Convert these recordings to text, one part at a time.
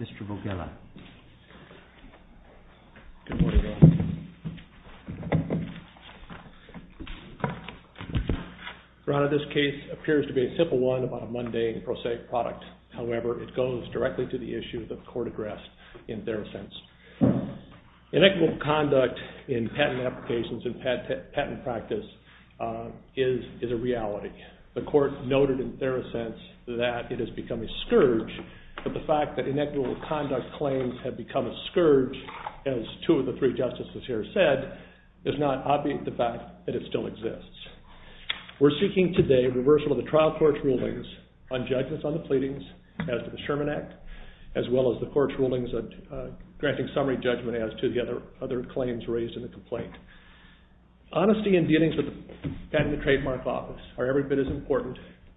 Mr. Vogella. Good morning, Your Honor. Your Honor, this case appears to be a simple one about a mundane prosaic product. However, it goes directly to the issue that the Court addressed in Therosense. Inequitable conduct in patent applications and patent practice is a reality. The Court noted in Therosense that it has become a scourge, but the fact that inequitable conduct claims have become a scourge, as two of the three justices here said, is not obviate the fact that it still exists. We're seeking today reversal of the trial court's rulings on judgments on the pleadings as to the Sherman Act, as well as the court's rulings granting summary judgment as to the other claims raised in the complaint. Honesty in dealings with the Patent and Trademark Office are every bit as important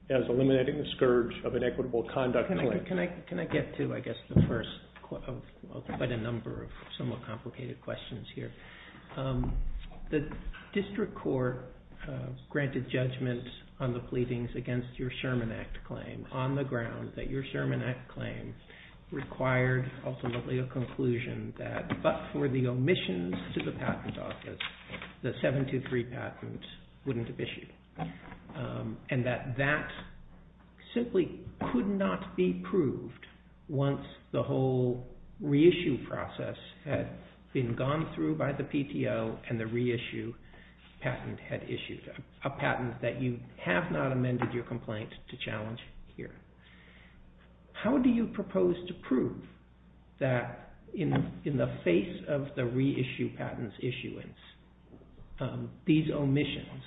as eliminating the scourge of inequitable conduct claims. Can I get to, I guess, the first of quite a number of somewhat complicated questions here? The district court granted judgment on the pleadings against your Sherman Act claim on the ground that your Sherman Act claim required ultimately a conclusion that, but for the omissions to the Patent Office, the 723 patent wouldn't have issued. And that that simply could not be proved once the whole reissue process had been gone through by the PTO and the reissue patent had issued, a patent that you have not amended your complaint to challenge here. How do you propose to prove that in the face of the reissue patent's issuance, these omissions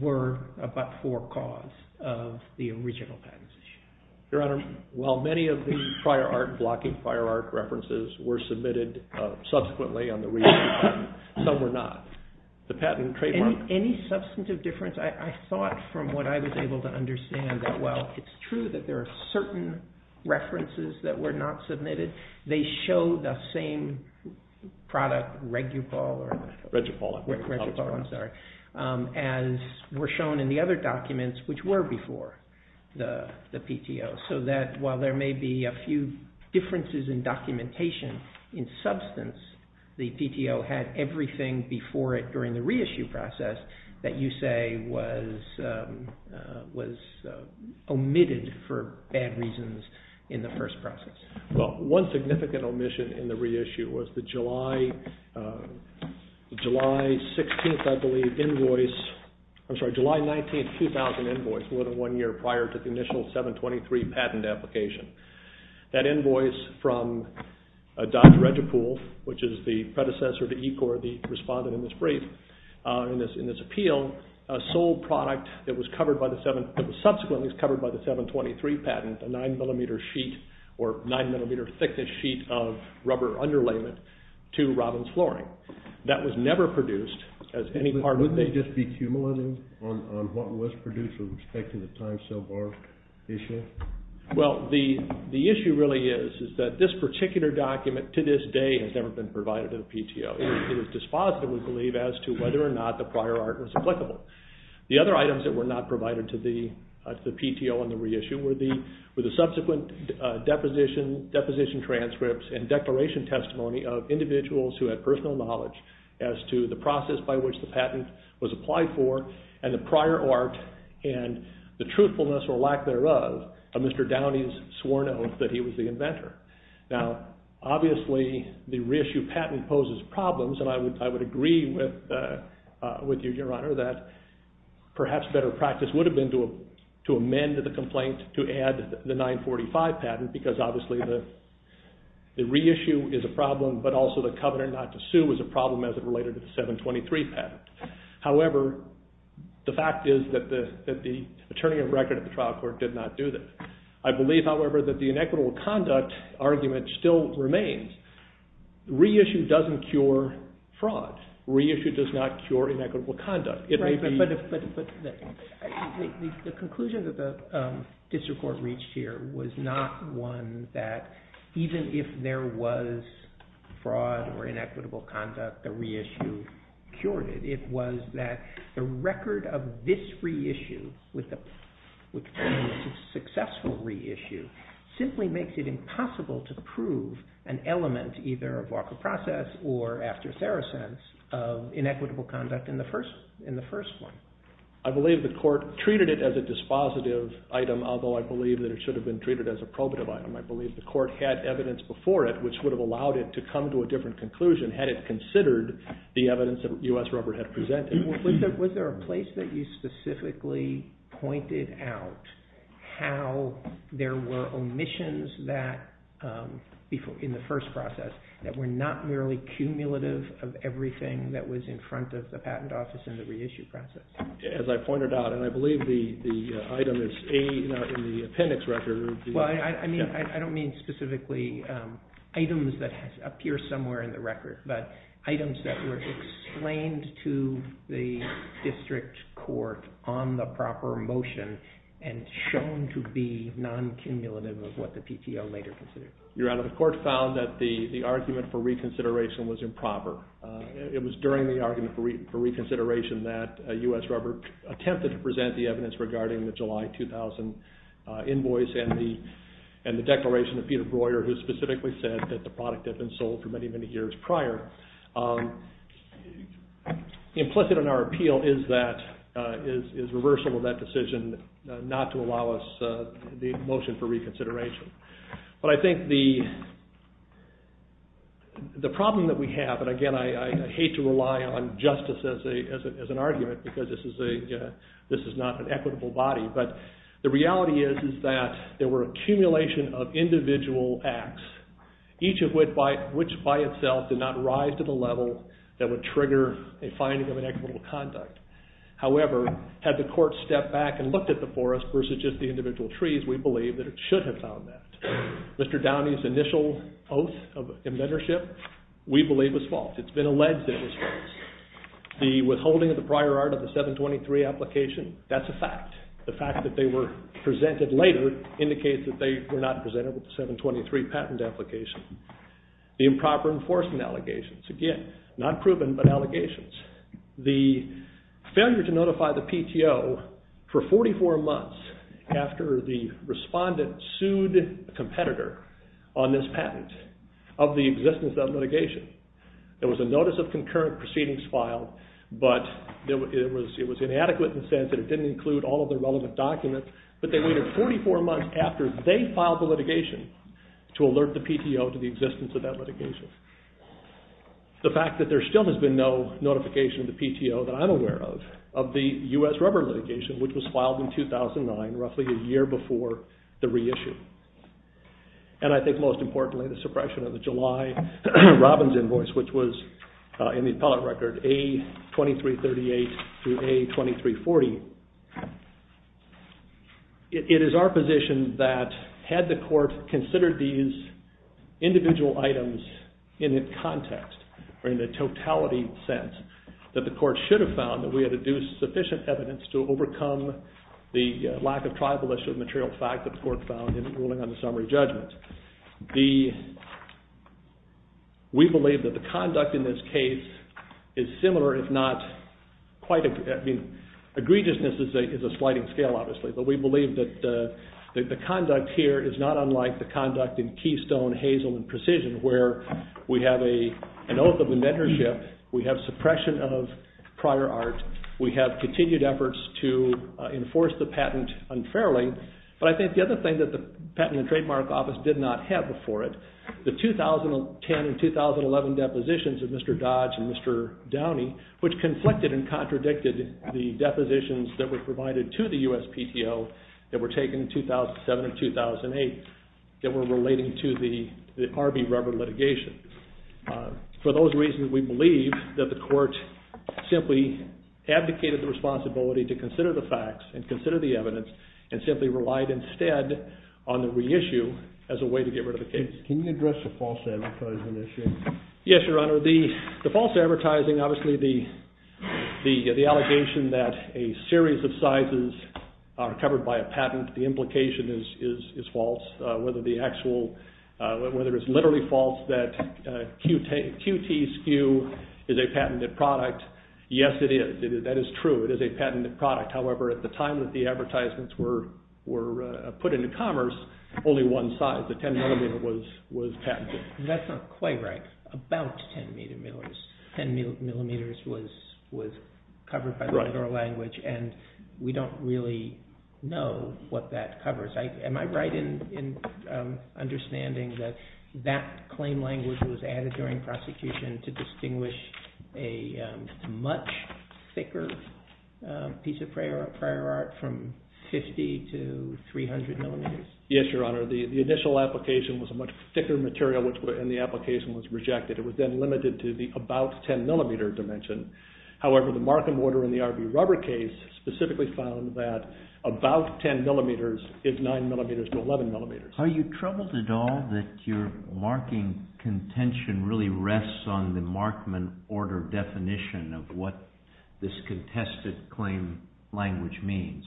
were but for cause of the original patent's issuance? Your Honor, while many of the prior art, blocking prior art references were submitted subsequently on the reissue patent, some were not. The patent and trademark… Any substantive difference? I thought from what I was able to understand that while it's true that there are certain references that were not submitted, they show the same product, ReguPol, as were shown in the other documents which were before the PTO. So that while there may be a few differences in documentation in substance, the PTO had everything before it during the reissue process that you say was omitted for bad reasons in the first process. Well, one significant omission in the reissue was the July 19, 2000 invoice, more than one year prior to the initial 723 patent application. That invoice from Dr. ReguPol, which is the predecessor to ECOR, the respondent in this brief, in this appeal, sold product that was subsequently covered by the 723 patent, a nine millimeter sheet or nine millimeter thickness sheet of rubber underlayment to Robbins Flooring. That was never produced as any part of the… Wouldn't they just be accumulating on what was produced with respect to the time so far issue? Well, the issue really is that this particular document to this day has never been provided to the PTO. It was dispositive, we believe, as to whether or not the prior art was applicable. The other items that were not provided to the PTO on the reissue were the subsequent deposition transcripts and declaration testimony of individuals who had personal knowledge as to the process by which the patent was applied for and the prior art and the truthfulness or lack thereof of Mr. Downey's sworn oath that he was the inventor. Now, obviously, the reissue patent poses problems, and I would agree with you, Your Honor, that perhaps better practice would have been to amend the complaint to add the 945 patent because obviously the reissue is a problem, but also the covenant not to sue is a problem as it related to the 723 patent. However, the fact is that the attorney of record at the trial court did not do that. I believe, however, that the inequitable conduct argument still remains. Reissue doesn't cure fraud. Reissue does not cure inequitable conduct. But the conclusion that the district court reached here was not one that even if there was fraud or inequitable conduct, the reissue cured it. It was that the record of this reissue, which is a successful reissue, simply makes it impossible to prove an element either of walker process or after Saracens of inequitable conduct in the first one. I believe the court treated it as a dispositive item, although I believe that it should have been treated as a probative item. I believe the court had evidence before it which would have allowed it to come to a different conclusion had it considered the evidence that U.S. rubber had presented. Was there a place that you specifically pointed out how there were omissions in the first process that were not merely cumulative of everything that was in front of the patent office in the reissue process? As I pointed out, and I believe the item is in the appendix record. I don't mean specifically items that appear somewhere in the record, but items that were explained to the district court on the proper motion and shown to be non-cumulative of what the PTO later considered. Your Honor, the court found that the argument for reconsideration was improper. It was during the argument for reconsideration that U.S. rubber attempted to present the evidence regarding the July 2000 invoice and the declaration of Peter Breuer who specifically said that the product had been sold for many, many years prior. Implicit in our appeal is reversal of that decision not to allow us the motion for reconsideration. But I think the problem that we have, and again I hate to rely on justice as an argument because this is not an equitable body, but the reality is that there were accumulation of individual acts, each of which by itself did not rise to the level that would trigger a finding of an equitable conduct. However, had the court stepped back and looked at the forest versus just the individual trees, we believe that it should have found that. Mr. Downey's initial oath of inventorship we believe was false. It's been alleged that it was false. The withholding of the prior art of the 723 application, that's a fact. The fact that they were presented later indicates that they were not presented with the 723 patent application. The improper enforcement allegations, again, not proven but allegations. The failure to notify the PTO for 44 months after the respondent sued a competitor on this patent of the existence of litigation. There was a notice of concurrent proceedings filed, but it was inadequate in the sense that it didn't include all of the relevant documents. But they waited 44 months after they filed the litigation to alert the PTO to the existence of that litigation. The fact that there still has been no notification of the PTO that I'm aware of, of the U.S. rubber litigation, which was filed in 2009, roughly a year before the reissue. And I think most importantly, the suppression of the July Robbins invoice, which was in the appellate record A2338 through A2340. It is our position that had the court considered these individual items in its context, or in the totality sense, that the court should have found that we had deduced sufficient evidence to overcome the lack of tribal issue, the material fact that the court found in the ruling on the summary judgment. We believe that the conduct in this case is similar, if not quite, I mean, egregiousness is a sliding scale, obviously, but we believe that the conduct here is not unlike the conduct in Keystone, Hazel, and Precision, where we have an oath of inventorship, we have suppression of prior art, we have continued efforts to enforce the patent unfairly, but I think the other thing that the Patent and Trademark Office did not have before it, the 2010 and 2011 depositions of Mr. Dodge and Mr. Downey, which conflicted and contradicted the depositions that were provided to the U.S. PTO that were taken in 2007 and 2008 that were relating to the R.B. rubber litigation. For those reasons, we believe that the court simply abdicated the responsibility to consider the facts and consider the evidence and simply relied instead on the reissue as a way to get rid of the case. Can you address the false advertising issue? Yes, Your Honor. The false advertising, obviously, the allegation that a series of sizes are covered by a patent, the implication is false, whether it's literally false that QT SKU is a patented product. Yes, it is. That is true. It is a patented product. However, at the time that the advertisements were put into commerce, only one size, the 10 millimeter, was patented. That's not quite right. About 10 millimeters was covered by the federal language, and we don't really know what that covers. Am I right in understanding that that claim language was added during prosecution to distinguish a much thicker piece of prior art from 50 to 300 millimeters? Yes, Your Honor. The initial application was a much thicker material, and the application was rejected. It was then limited to the about 10 millimeter dimension. However, the Markman order in the RV rubber case specifically found that about 10 millimeters is 9 millimeters to 11 millimeters. Are you troubled at all that your marking contention really rests on the Markman order definition of what this contested claim language means?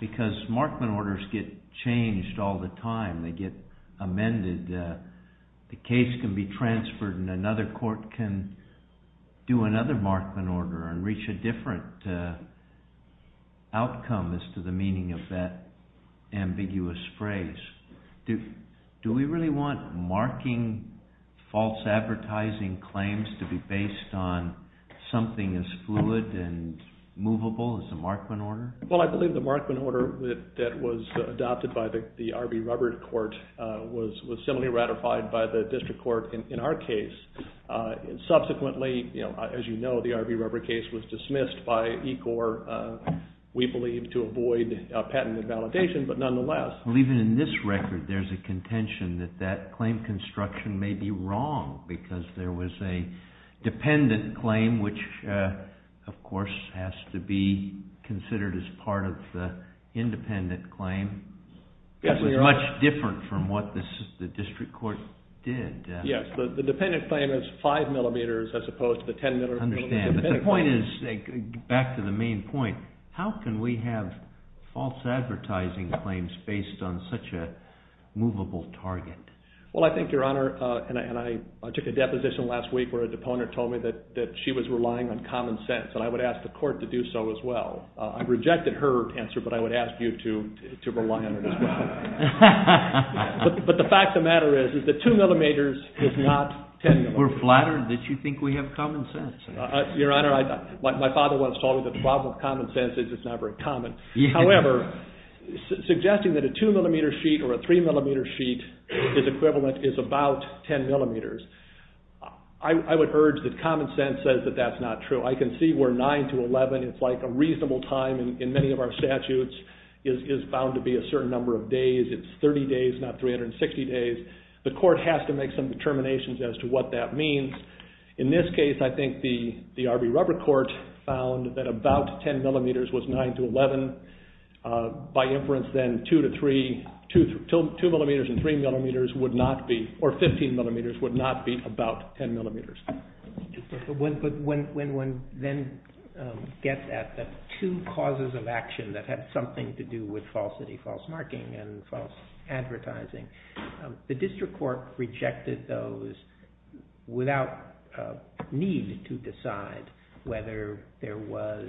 Because Markman orders get changed all the time. They get amended. The case can be transferred, and another court can do another Markman order and reach a different outcome as to the meaning of that ambiguous phrase. Do we really want marking false advertising claims to be based on something as fluid and movable as the Markman order? Well, I believe the Markman order that was adopted by the RV rubber court was similarly ratified by the district court in our case. Subsequently, as you know, the RV rubber case was dismissed by ECOR, we believe, to avoid patent invalidation, but nonetheless. Well, even in this record, there's a contention that that claim construction may be wrong because there was a dependent claim which, of course, has to be considered as part of the independent claim. It was much different from what the district court did. Yes, the dependent claim is 5 millimeters as opposed to the 10 millimeters. I understand, but the point is, back to the main point, how can we have false advertising claims based on such a movable target? Well, I think, Your Honor, and I took a deposition last week where a deponent told me that she was relying on common sense, and I would ask the court to do so as well. I rejected her answer, but I would ask you to rely on it as well. But the fact of the matter is that 2 millimeters is not 10 millimeters. We're flattered that you think we have common sense. Your Honor, my father once told me that the problem with common sense is it's not very common. However, suggesting that a 2 millimeter sheet or a 3 millimeter sheet is equivalent is about 10 millimeters. I would urge that common sense says that that's not true. I can see where 9 to 11, it's like a reasonable time in many of our statutes, is found to be a certain number of days. It's 30 days, not 360 days. The court has to make some determinations as to what that means. In this case, I think the Arby rubber court found that about 10 millimeters was 9 to 11. By inference, then, 2 to 3, 2 millimeters and 3 millimeters would not be, or 15 millimeters would not be about 10 millimeters. But when one then gets at the two causes of action that had something to do with falsity, false marking and false advertising, the district court rejected those without need to decide whether there was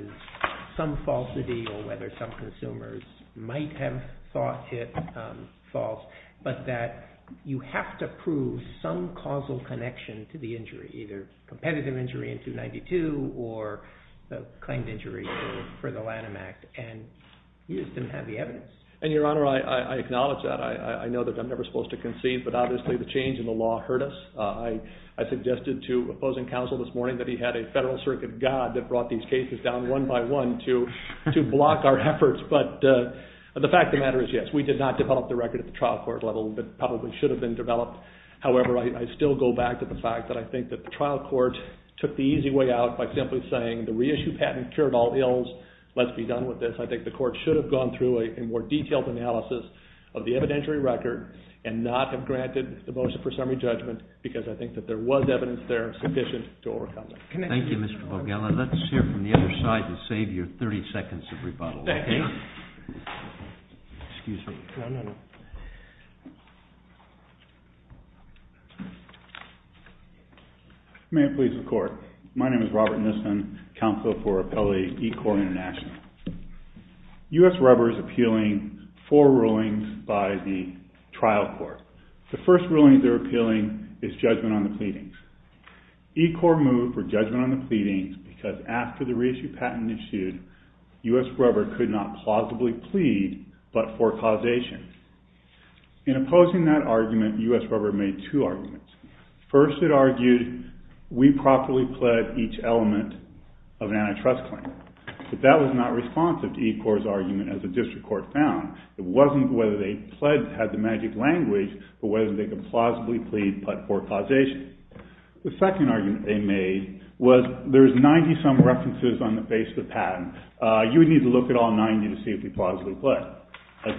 some falsity or whether some consumers might have thought it false, but that you have to prove some causal connection to the injury, either competitive injury in 292 or the claimed injury for the Lanham Act. And Houston had the evidence. And Your Honor, I acknowledge that. I know that I'm never supposed to concede, but obviously the change in the law hurt us. I suggested to opposing counsel this morning that he had a federal circuit god that brought these cases down one by one to block our efforts. But the fact of the matter is, yes, we did not develop the record at the trial court level that probably should have been developed. However, I still go back to the fact that I think that the trial court took the easy way out by simply saying the reissue patent cured all ills. Let's be done with this. I think the court should have gone through a more detailed analysis of the evidentiary record and not have granted the motion for summary judgment because I think that there was evidence there sufficient to overcome that. Thank you, Mr. Borgella. Let's hear from the other side to save you 30 seconds of rebuttal. Thank you. Excuse me. No, no, no. May it please the court. My name is Robert Nissen, counsel for Appellee E-Corps International. U.S. rubber is appealing four rulings by the trial court. The first ruling they're appealing is judgment on the pleadings. E-Corps moved for judgment on the pleadings because after the reissue patent issued, U.S. rubber could not plausibly plead but for causation. In opposing that argument, U.S. rubber made two arguments. First, it argued we properly pled each element of an antitrust claim. But that was not responsive to E-Corps' argument as the district court found. It wasn't whether they pled had the magic language for whether they could plausibly plead but for causation. The second argument they made was there's 90-some references on the face of the patent. You would need to look at all 90 to see if we plausibly pled. The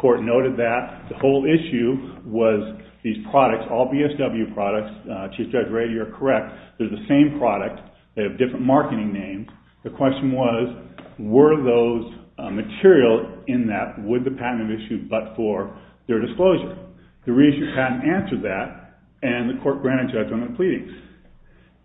court noted that the whole issue was these products, all BSW products. Chief Judge Rady, you're correct. They're the same product. They have different marketing names. The question was were those material in that would the patent have issued but for their disclosure? The reissue patent answered that, and the court granted judgment on the pleadings.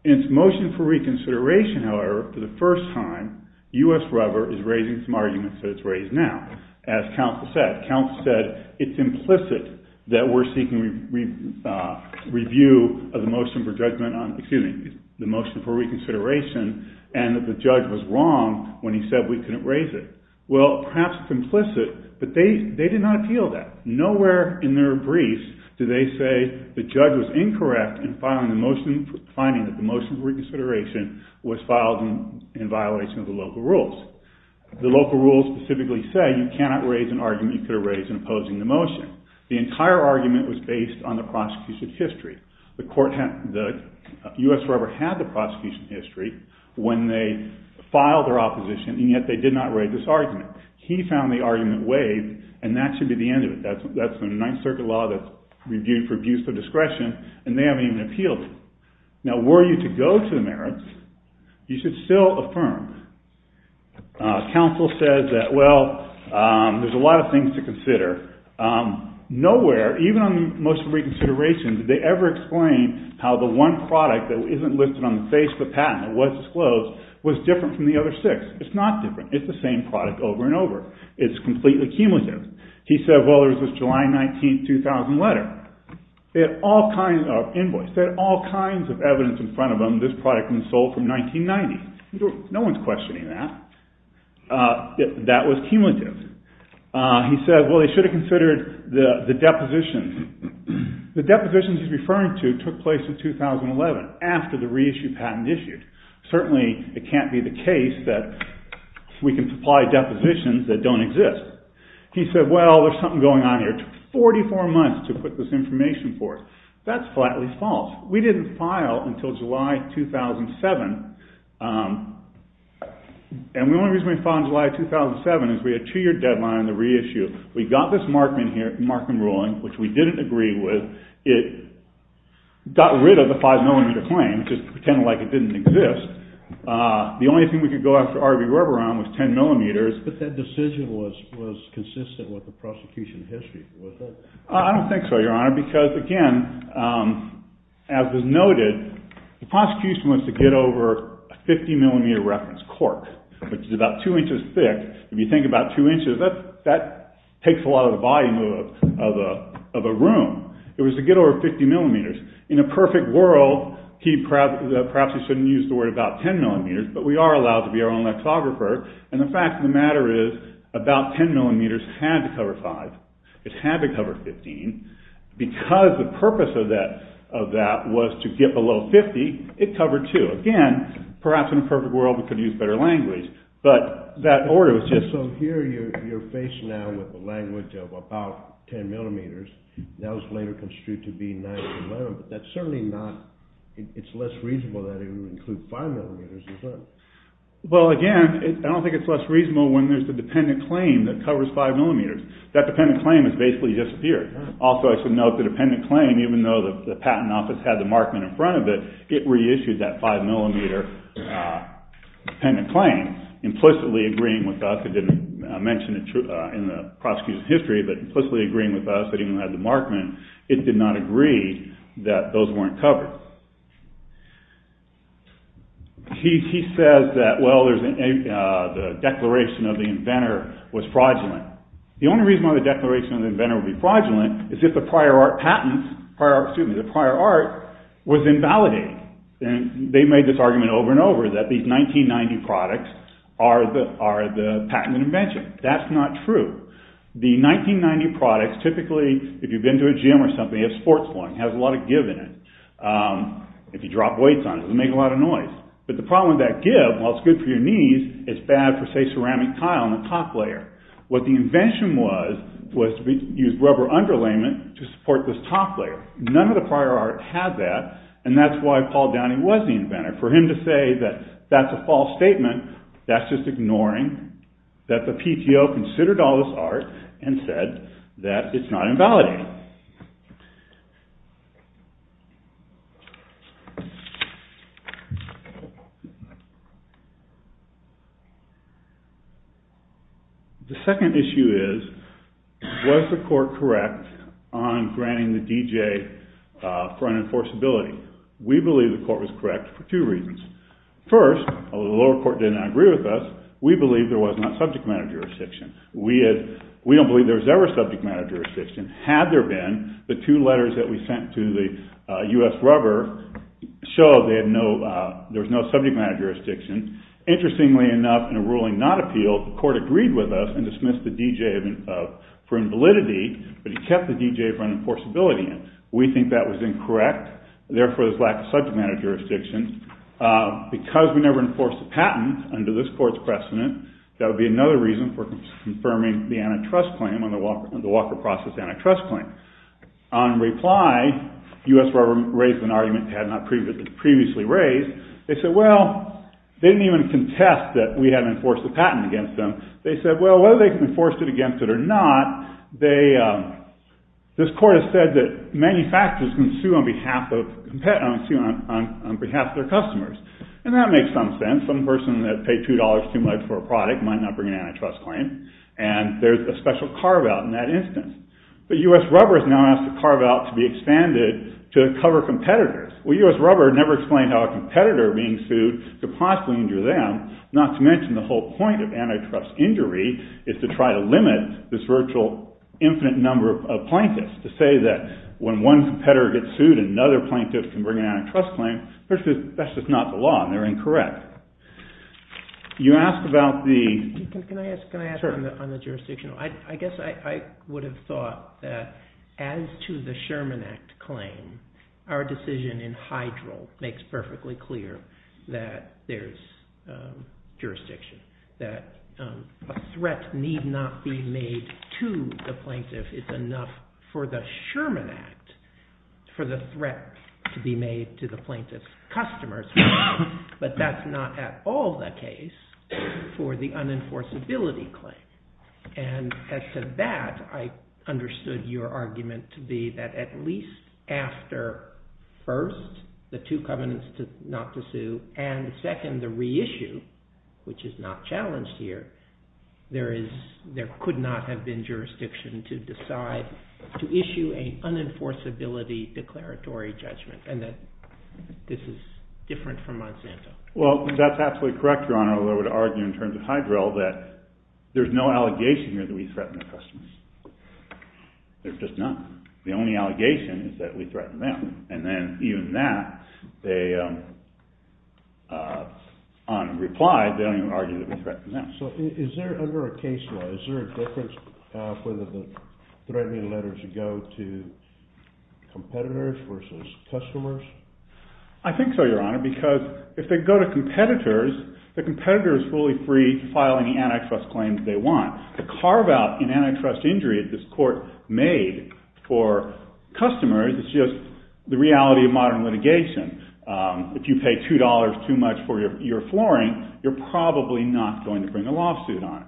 In its motion for reconsideration, however, for the first time, U.S. rubber is raising some arguments that it's raised now, as counsel said. Counsel said it's implicit that we're seeking review of the motion for judgment on, excuse me, the motion for reconsideration and that the judge was wrong when he said we couldn't raise it. Well, perhaps it's implicit, but they did not appeal that. Nowhere in their briefs did they say the judge was incorrect in filing the motion, finding that the motion for reconsideration was filed in violation of the local rules. The local rules specifically say you cannot raise an argument you could have raised in opposing the motion. The entire argument was based on the prosecution's history. The U.S. rubber had the prosecution's history when they filed their opposition, and yet they did not raise this argument. He found the argument waived, and that should be the end of it. That's a Ninth Circuit law that's reviewed for abuse of discretion, and they haven't even appealed it. Now, were you to go to the merits, you should still affirm. Counsel says that, well, there's a lot of things to consider. Nowhere, even on the motion for reconsideration, did they ever explain how the one product that isn't listed on the face of the patent that was disclosed was different from the other six. It's not different. It's the same product over and over. It's completely cumulative. He said, well, there's this July 19, 2000 letter. They had all kinds of evidence in front of them that this product was sold from 1990. No one's questioning that. That was cumulative. He said, well, they should have considered the depositions. The depositions he's referring to took place in 2011, after the reissue patent issued. Certainly, it can't be the case that we can supply depositions that don't exist. He said, well, there's something going on here. It took 44 months to put this information forth. That's flatly false. We didn't file until July 2007. And the only reason we filed in July 2007 is we had a two-year deadline on the reissue. We got this Markman here, Markman ruling, which we didn't agree with. It got rid of the five-millimeter claim, just pretending like it didn't exist. The only thing we could go after R.B. Reberon was ten millimeters. But that decision was consistent with the prosecution history, was it? I don't think so, Your Honor, because, again, as was noted, the prosecution wants to get over a 50-millimeter reference cork, which is about two inches thick. If you think about two inches, that takes a lot of the volume of a room. It was to get over 50 millimeters. In a perfect world, perhaps he shouldn't use the word about ten millimeters, but we are allowed to be our own lexicographer. And the fact of the matter is about ten millimeters had to cover five. It had to cover 15. Because the purpose of that was to get below 50, it covered two. Again, perhaps in a perfect world we could have used better language, but that order was just— So here you're facing now with the language of about ten millimeters. That was later construed to be nine millimeters. That's certainly not—it's less reasonable that it would include five millimeters, is it? Well, again, I don't think it's less reasonable when there's a dependent claim that covers five millimeters. That dependent claim has basically disappeared. Also, I should note, the dependent claim, even though the patent office had the markment in front of it, it reissued that five-millimeter dependent claim, implicitly agreeing with us. It didn't mention it in the prosecution history, but implicitly agreeing with us that it even had the markment. It did not agree that those weren't covered. He says that, well, the declaration of the inventor was fraudulent. The only reason why the declaration of the inventor would be fraudulent is if the prior art was invalidated. They made this argument over and over that these 1990 products are the patent invention. That's not true. The 1990 products, typically, if you've been to a gym or something, you have sports clothing. It has a lot of give in it. If you drop weights on it, it'll make a lot of noise. But the problem with that give, while it's good for your knees, it's bad for, say, ceramic tile in the top layer. What the invention was, was to use rubber underlayment to support this top layer. None of the prior art had that, and that's why Paul Downing was the inventor. For him to say that that's a false statement, that's just ignoring that the PTO considered all this art and said that it's not invalidated. The second issue is, was the court correct on granting the DJ for unenforceability? We believe the court was correct for two reasons. First, although the lower court did not agree with us, we believe there was not subject matter jurisdiction. We don't believe there was ever subject matter jurisdiction. Had there been, the two letters that we sent to the U.S. rubber showed there was no subject matter jurisdiction. Interestingly enough, in a ruling not appealed, the court agreed with us and dismissed the DJ for invalidity, but he kept the DJ for unenforceability. We think that was incorrect. Therefore, there's lack of subject matter jurisdiction. Because we never enforced the patent under this court's precedent, that would be another reason for confirming the antitrust claim on the Walker Process antitrust claim. On reply, the U.S. rubber raised an argument it had not previously raised. They said, well, they didn't even contest that we hadn't enforced the patent against them. They said, well, whether they can enforce it against it or not, this court has said that manufacturers can sue on behalf of their customers. And that makes some sense. Some person that paid $2 too much for a product might not bring an antitrust claim, and there's a special carve-out in that instance. But U.S. rubber has now asked the carve-out to be expanded to cover competitors. Well, U.S. rubber never explained how a competitor being sued could possibly injure them, not to mention the whole point of antitrust injury is to try to limit this virtual infinite number of plaintiffs, to say that when one competitor gets sued, another plaintiff can bring an antitrust claim. That's just not the law, and they're incorrect. You asked about the – Can I ask on the jurisdiction? I guess I would have thought that as to the Sherman Act claim, our decision in Hydral makes perfectly clear that there's jurisdiction, that a threat need not be made to the plaintiff. It's enough for the Sherman Act for the threat to be made to the plaintiff's customers, but that's not at all the case for the unenforceability claim. And as to that, I understood your argument to be that at least after, first, the two covenants not to sue, and second, the reissue, which is not challenged here, there could not have been jurisdiction to decide to issue an unenforceability declaratory judgment, and that this is different from Monsanto. Well, that's absolutely correct, Your Honor, although I would argue in terms of Hydral that there's no allegation here that we threaten the customers. There's just none. The only allegation is that we threaten them, and then even that, they, on reply, they don't even argue that we threaten them. So is there, under a case law, is there a difference whether the threatening letters go to competitors versus customers? I think so, Your Honor, because if they go to competitors, the competitor is fully free to file any antitrust claims they want. The carve-out in antitrust injury that this court made for customers is just the reality of modern litigation. If you pay $2 too much for your flooring, you're probably not going to bring a lawsuit on it,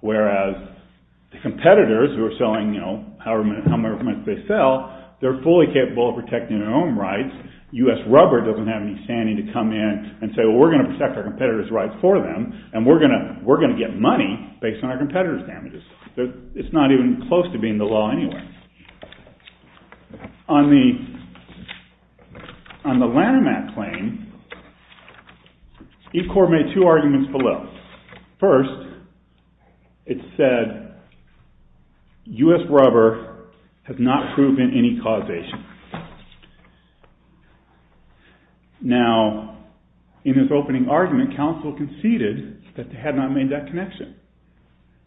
whereas the competitors who are selling however much they sell, they're fully capable of protecting their own rights. U.S. rubber doesn't have any standing to come in and say, well, we're going to protect our competitors' rights for them, and we're going to get money based on our competitors' damages. It's not even close to being the law anyway. On the Lanham Act claim, Ecore made two arguments below. First, it said U.S. rubber has not proven any causation. Now, in his opening argument, counsel conceded that they had not made that connection.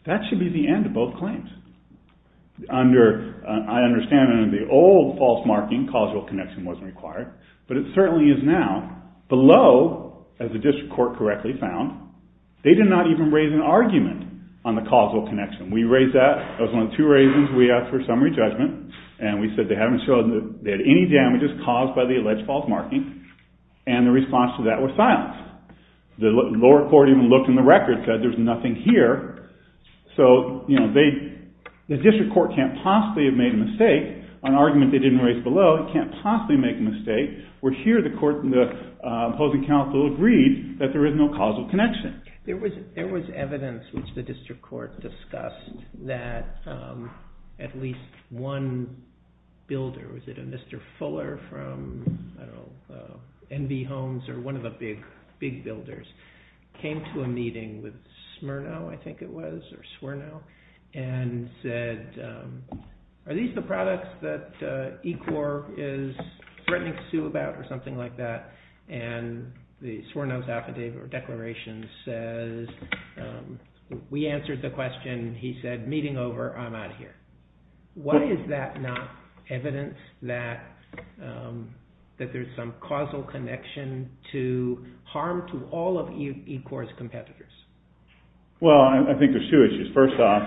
That should be the end of both claims. I understand under the old false marking, causal connection wasn't required, but it certainly is now. Below, as the district court correctly found, they did not even raise an argument on the causal connection. We raised that. That was one of the two reasons we asked for summary judgment, and we said they hadn't shown that they had any damages caused by the alleged false marking, and the response to that was silence. The lower court even looked in the record and said there's nothing here. So the district court can't possibly have made a mistake. An argument they didn't raise below, it can't possibly make a mistake, where here the opposing counsel agreed that there is no causal connection. There was evidence which the district court discussed that at least one builder, was it a Mr. Fuller from NV Homes or one of the big builders, came to a meeting with Smyrno, I think it was, or Smyrno, and said are these the products that ECOR is threatening to sue about or something like that, and the Smyrno's affidavit or declaration says we answered the question, he said meeting over, I'm out of here. Why is that not evidence that there's some causal connection to harm to all of ECOR's competitors? Well, I think there's two issues. First off,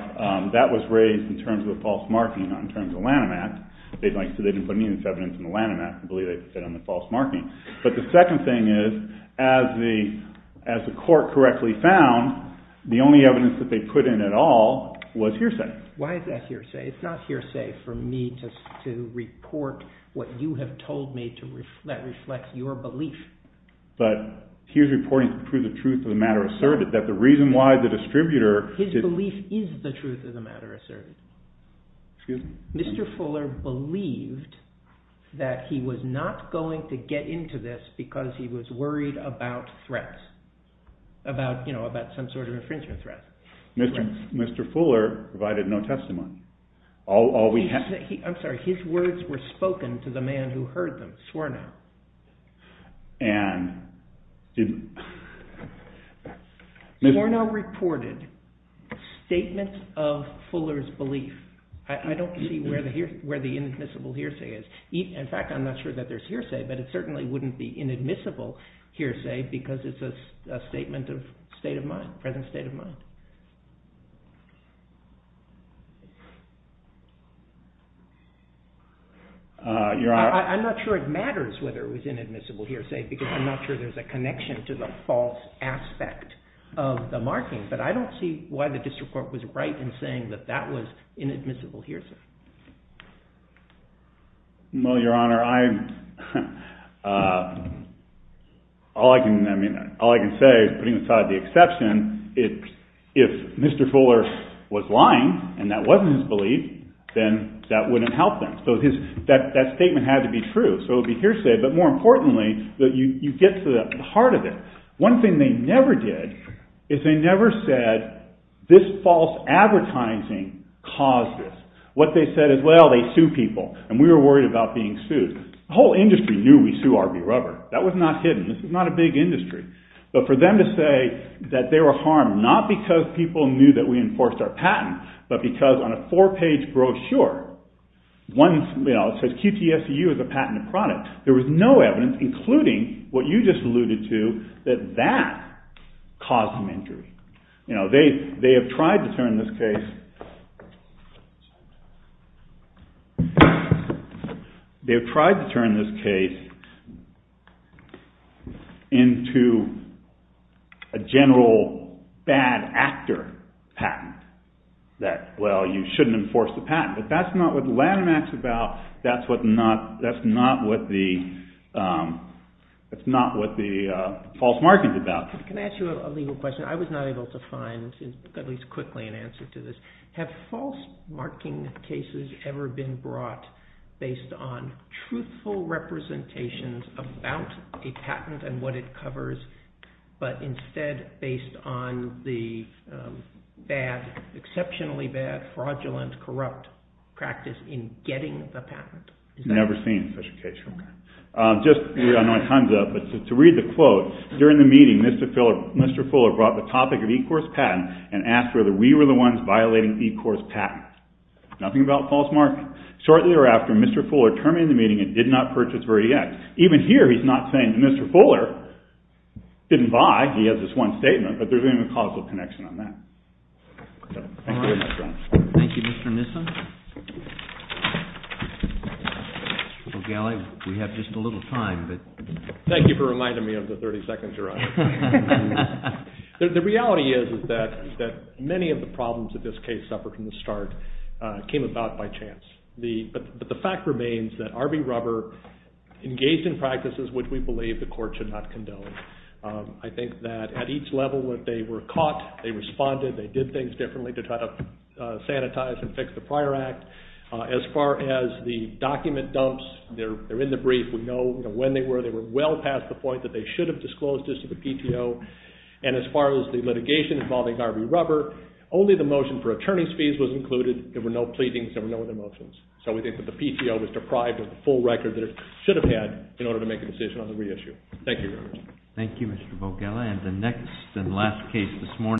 that was raised in terms of the false marking, not in terms of Lanham Act. They didn't put any of this evidence in the Lanham Act. I believe they said on the false marking. But the second thing is as the court correctly found, the only evidence that they put in at all was hearsay. Why is that hearsay? It's not hearsay for me to report what you have told me that reflects your belief. But here's reporting to prove the truth of the matter asserted that the reason why the distributor— His belief is the truth of the matter asserted. Excuse me? Mr. Fuller believed that he was not going to get into this because he was worried about threats, about some sort of infringement threat. Mr. Fuller provided no testimony. All we have— I'm sorry. His words were spoken to the man who heard them, Swornow. Swornow reported statements of Fuller's belief. I don't see where the inadmissible hearsay is. In fact, I'm not sure that there's hearsay, but it certainly wouldn't be inadmissible hearsay because it's a statement of state of mind, Your Honor. I'm not sure it matters whether it was inadmissible hearsay because I'm not sure there's a connection to the false aspect of the marking, but I don't see why the district court was right in saying that that was inadmissible hearsay. Well, Your Honor, all I can say is putting aside the exception, if Mr. Fuller was lying and that wasn't his belief, then that wouldn't help them. So that statement had to be true. So it would be hearsay, but more importantly, you get to the heart of it. One thing they never did is they never said this false advertising caused this. What they said is, well, they sue people, and we were worried about being sued. The whole industry knew we sued RB Rubber. That was not hidden. This was not a big industry. But for them to say that they were harmed, not because people knew that we enforced our patent, but because on a four-page brochure, it says QTSU is a patented product. There was no evidence, including what you just alluded to, that that caused them injury. They have tried to turn this case into a general bad actor patent that, well, you shouldn't enforce the patent. But that's not what Lanham Act is about. That's not what the false market is about. Can I ask you a legal question? I was not able to find, at least quickly, an answer to this. Have false marketing cases ever been brought based on truthful representations about a patent and what it covers, but instead based on the bad, exceptionally bad, fraudulent, corrupt practice in getting the patent? Never seen such a case before. I know my time's up, but to read the quote, during the meeting, Mr. Fuller brought the topic of e-course patents and asked whether we were the ones violating e-course patents. Nothing about false marketing. Shortly thereafter, Mr. Fuller terminated the meeting and did not purchase Verdi-X. Even here, he's not saying that Mr. Fuller didn't buy. He has this one statement, but there's not even a causal connection on that. Thank you, Mr. Nissen. Well, Gally, we have just a little time. Thank you for reminding me of the 30 seconds you're on. The reality is that many of the problems of this case, separate from the start, came about by chance. But the fact remains that R.B. Rubber engaged in practices which we believe the court should not condone. I think that at each level, that they were caught, they responded, they did things differently to try to sanitize, and fix the prior act. As far as the document dumps, they're in the brief. We know when they were. They were well past the point that they should have disclosed this to the PTO. And as far as the litigation involving R.B. Rubber, only the motion for attorney's fees was included. There were no pleadings. There were no other motions. So we think that the PTO was deprived of the full record that it should have had in order to make a decision on the reissue. Thank you, Your Honor. Thank you, Mr. Vogella. And the next and last case this morning.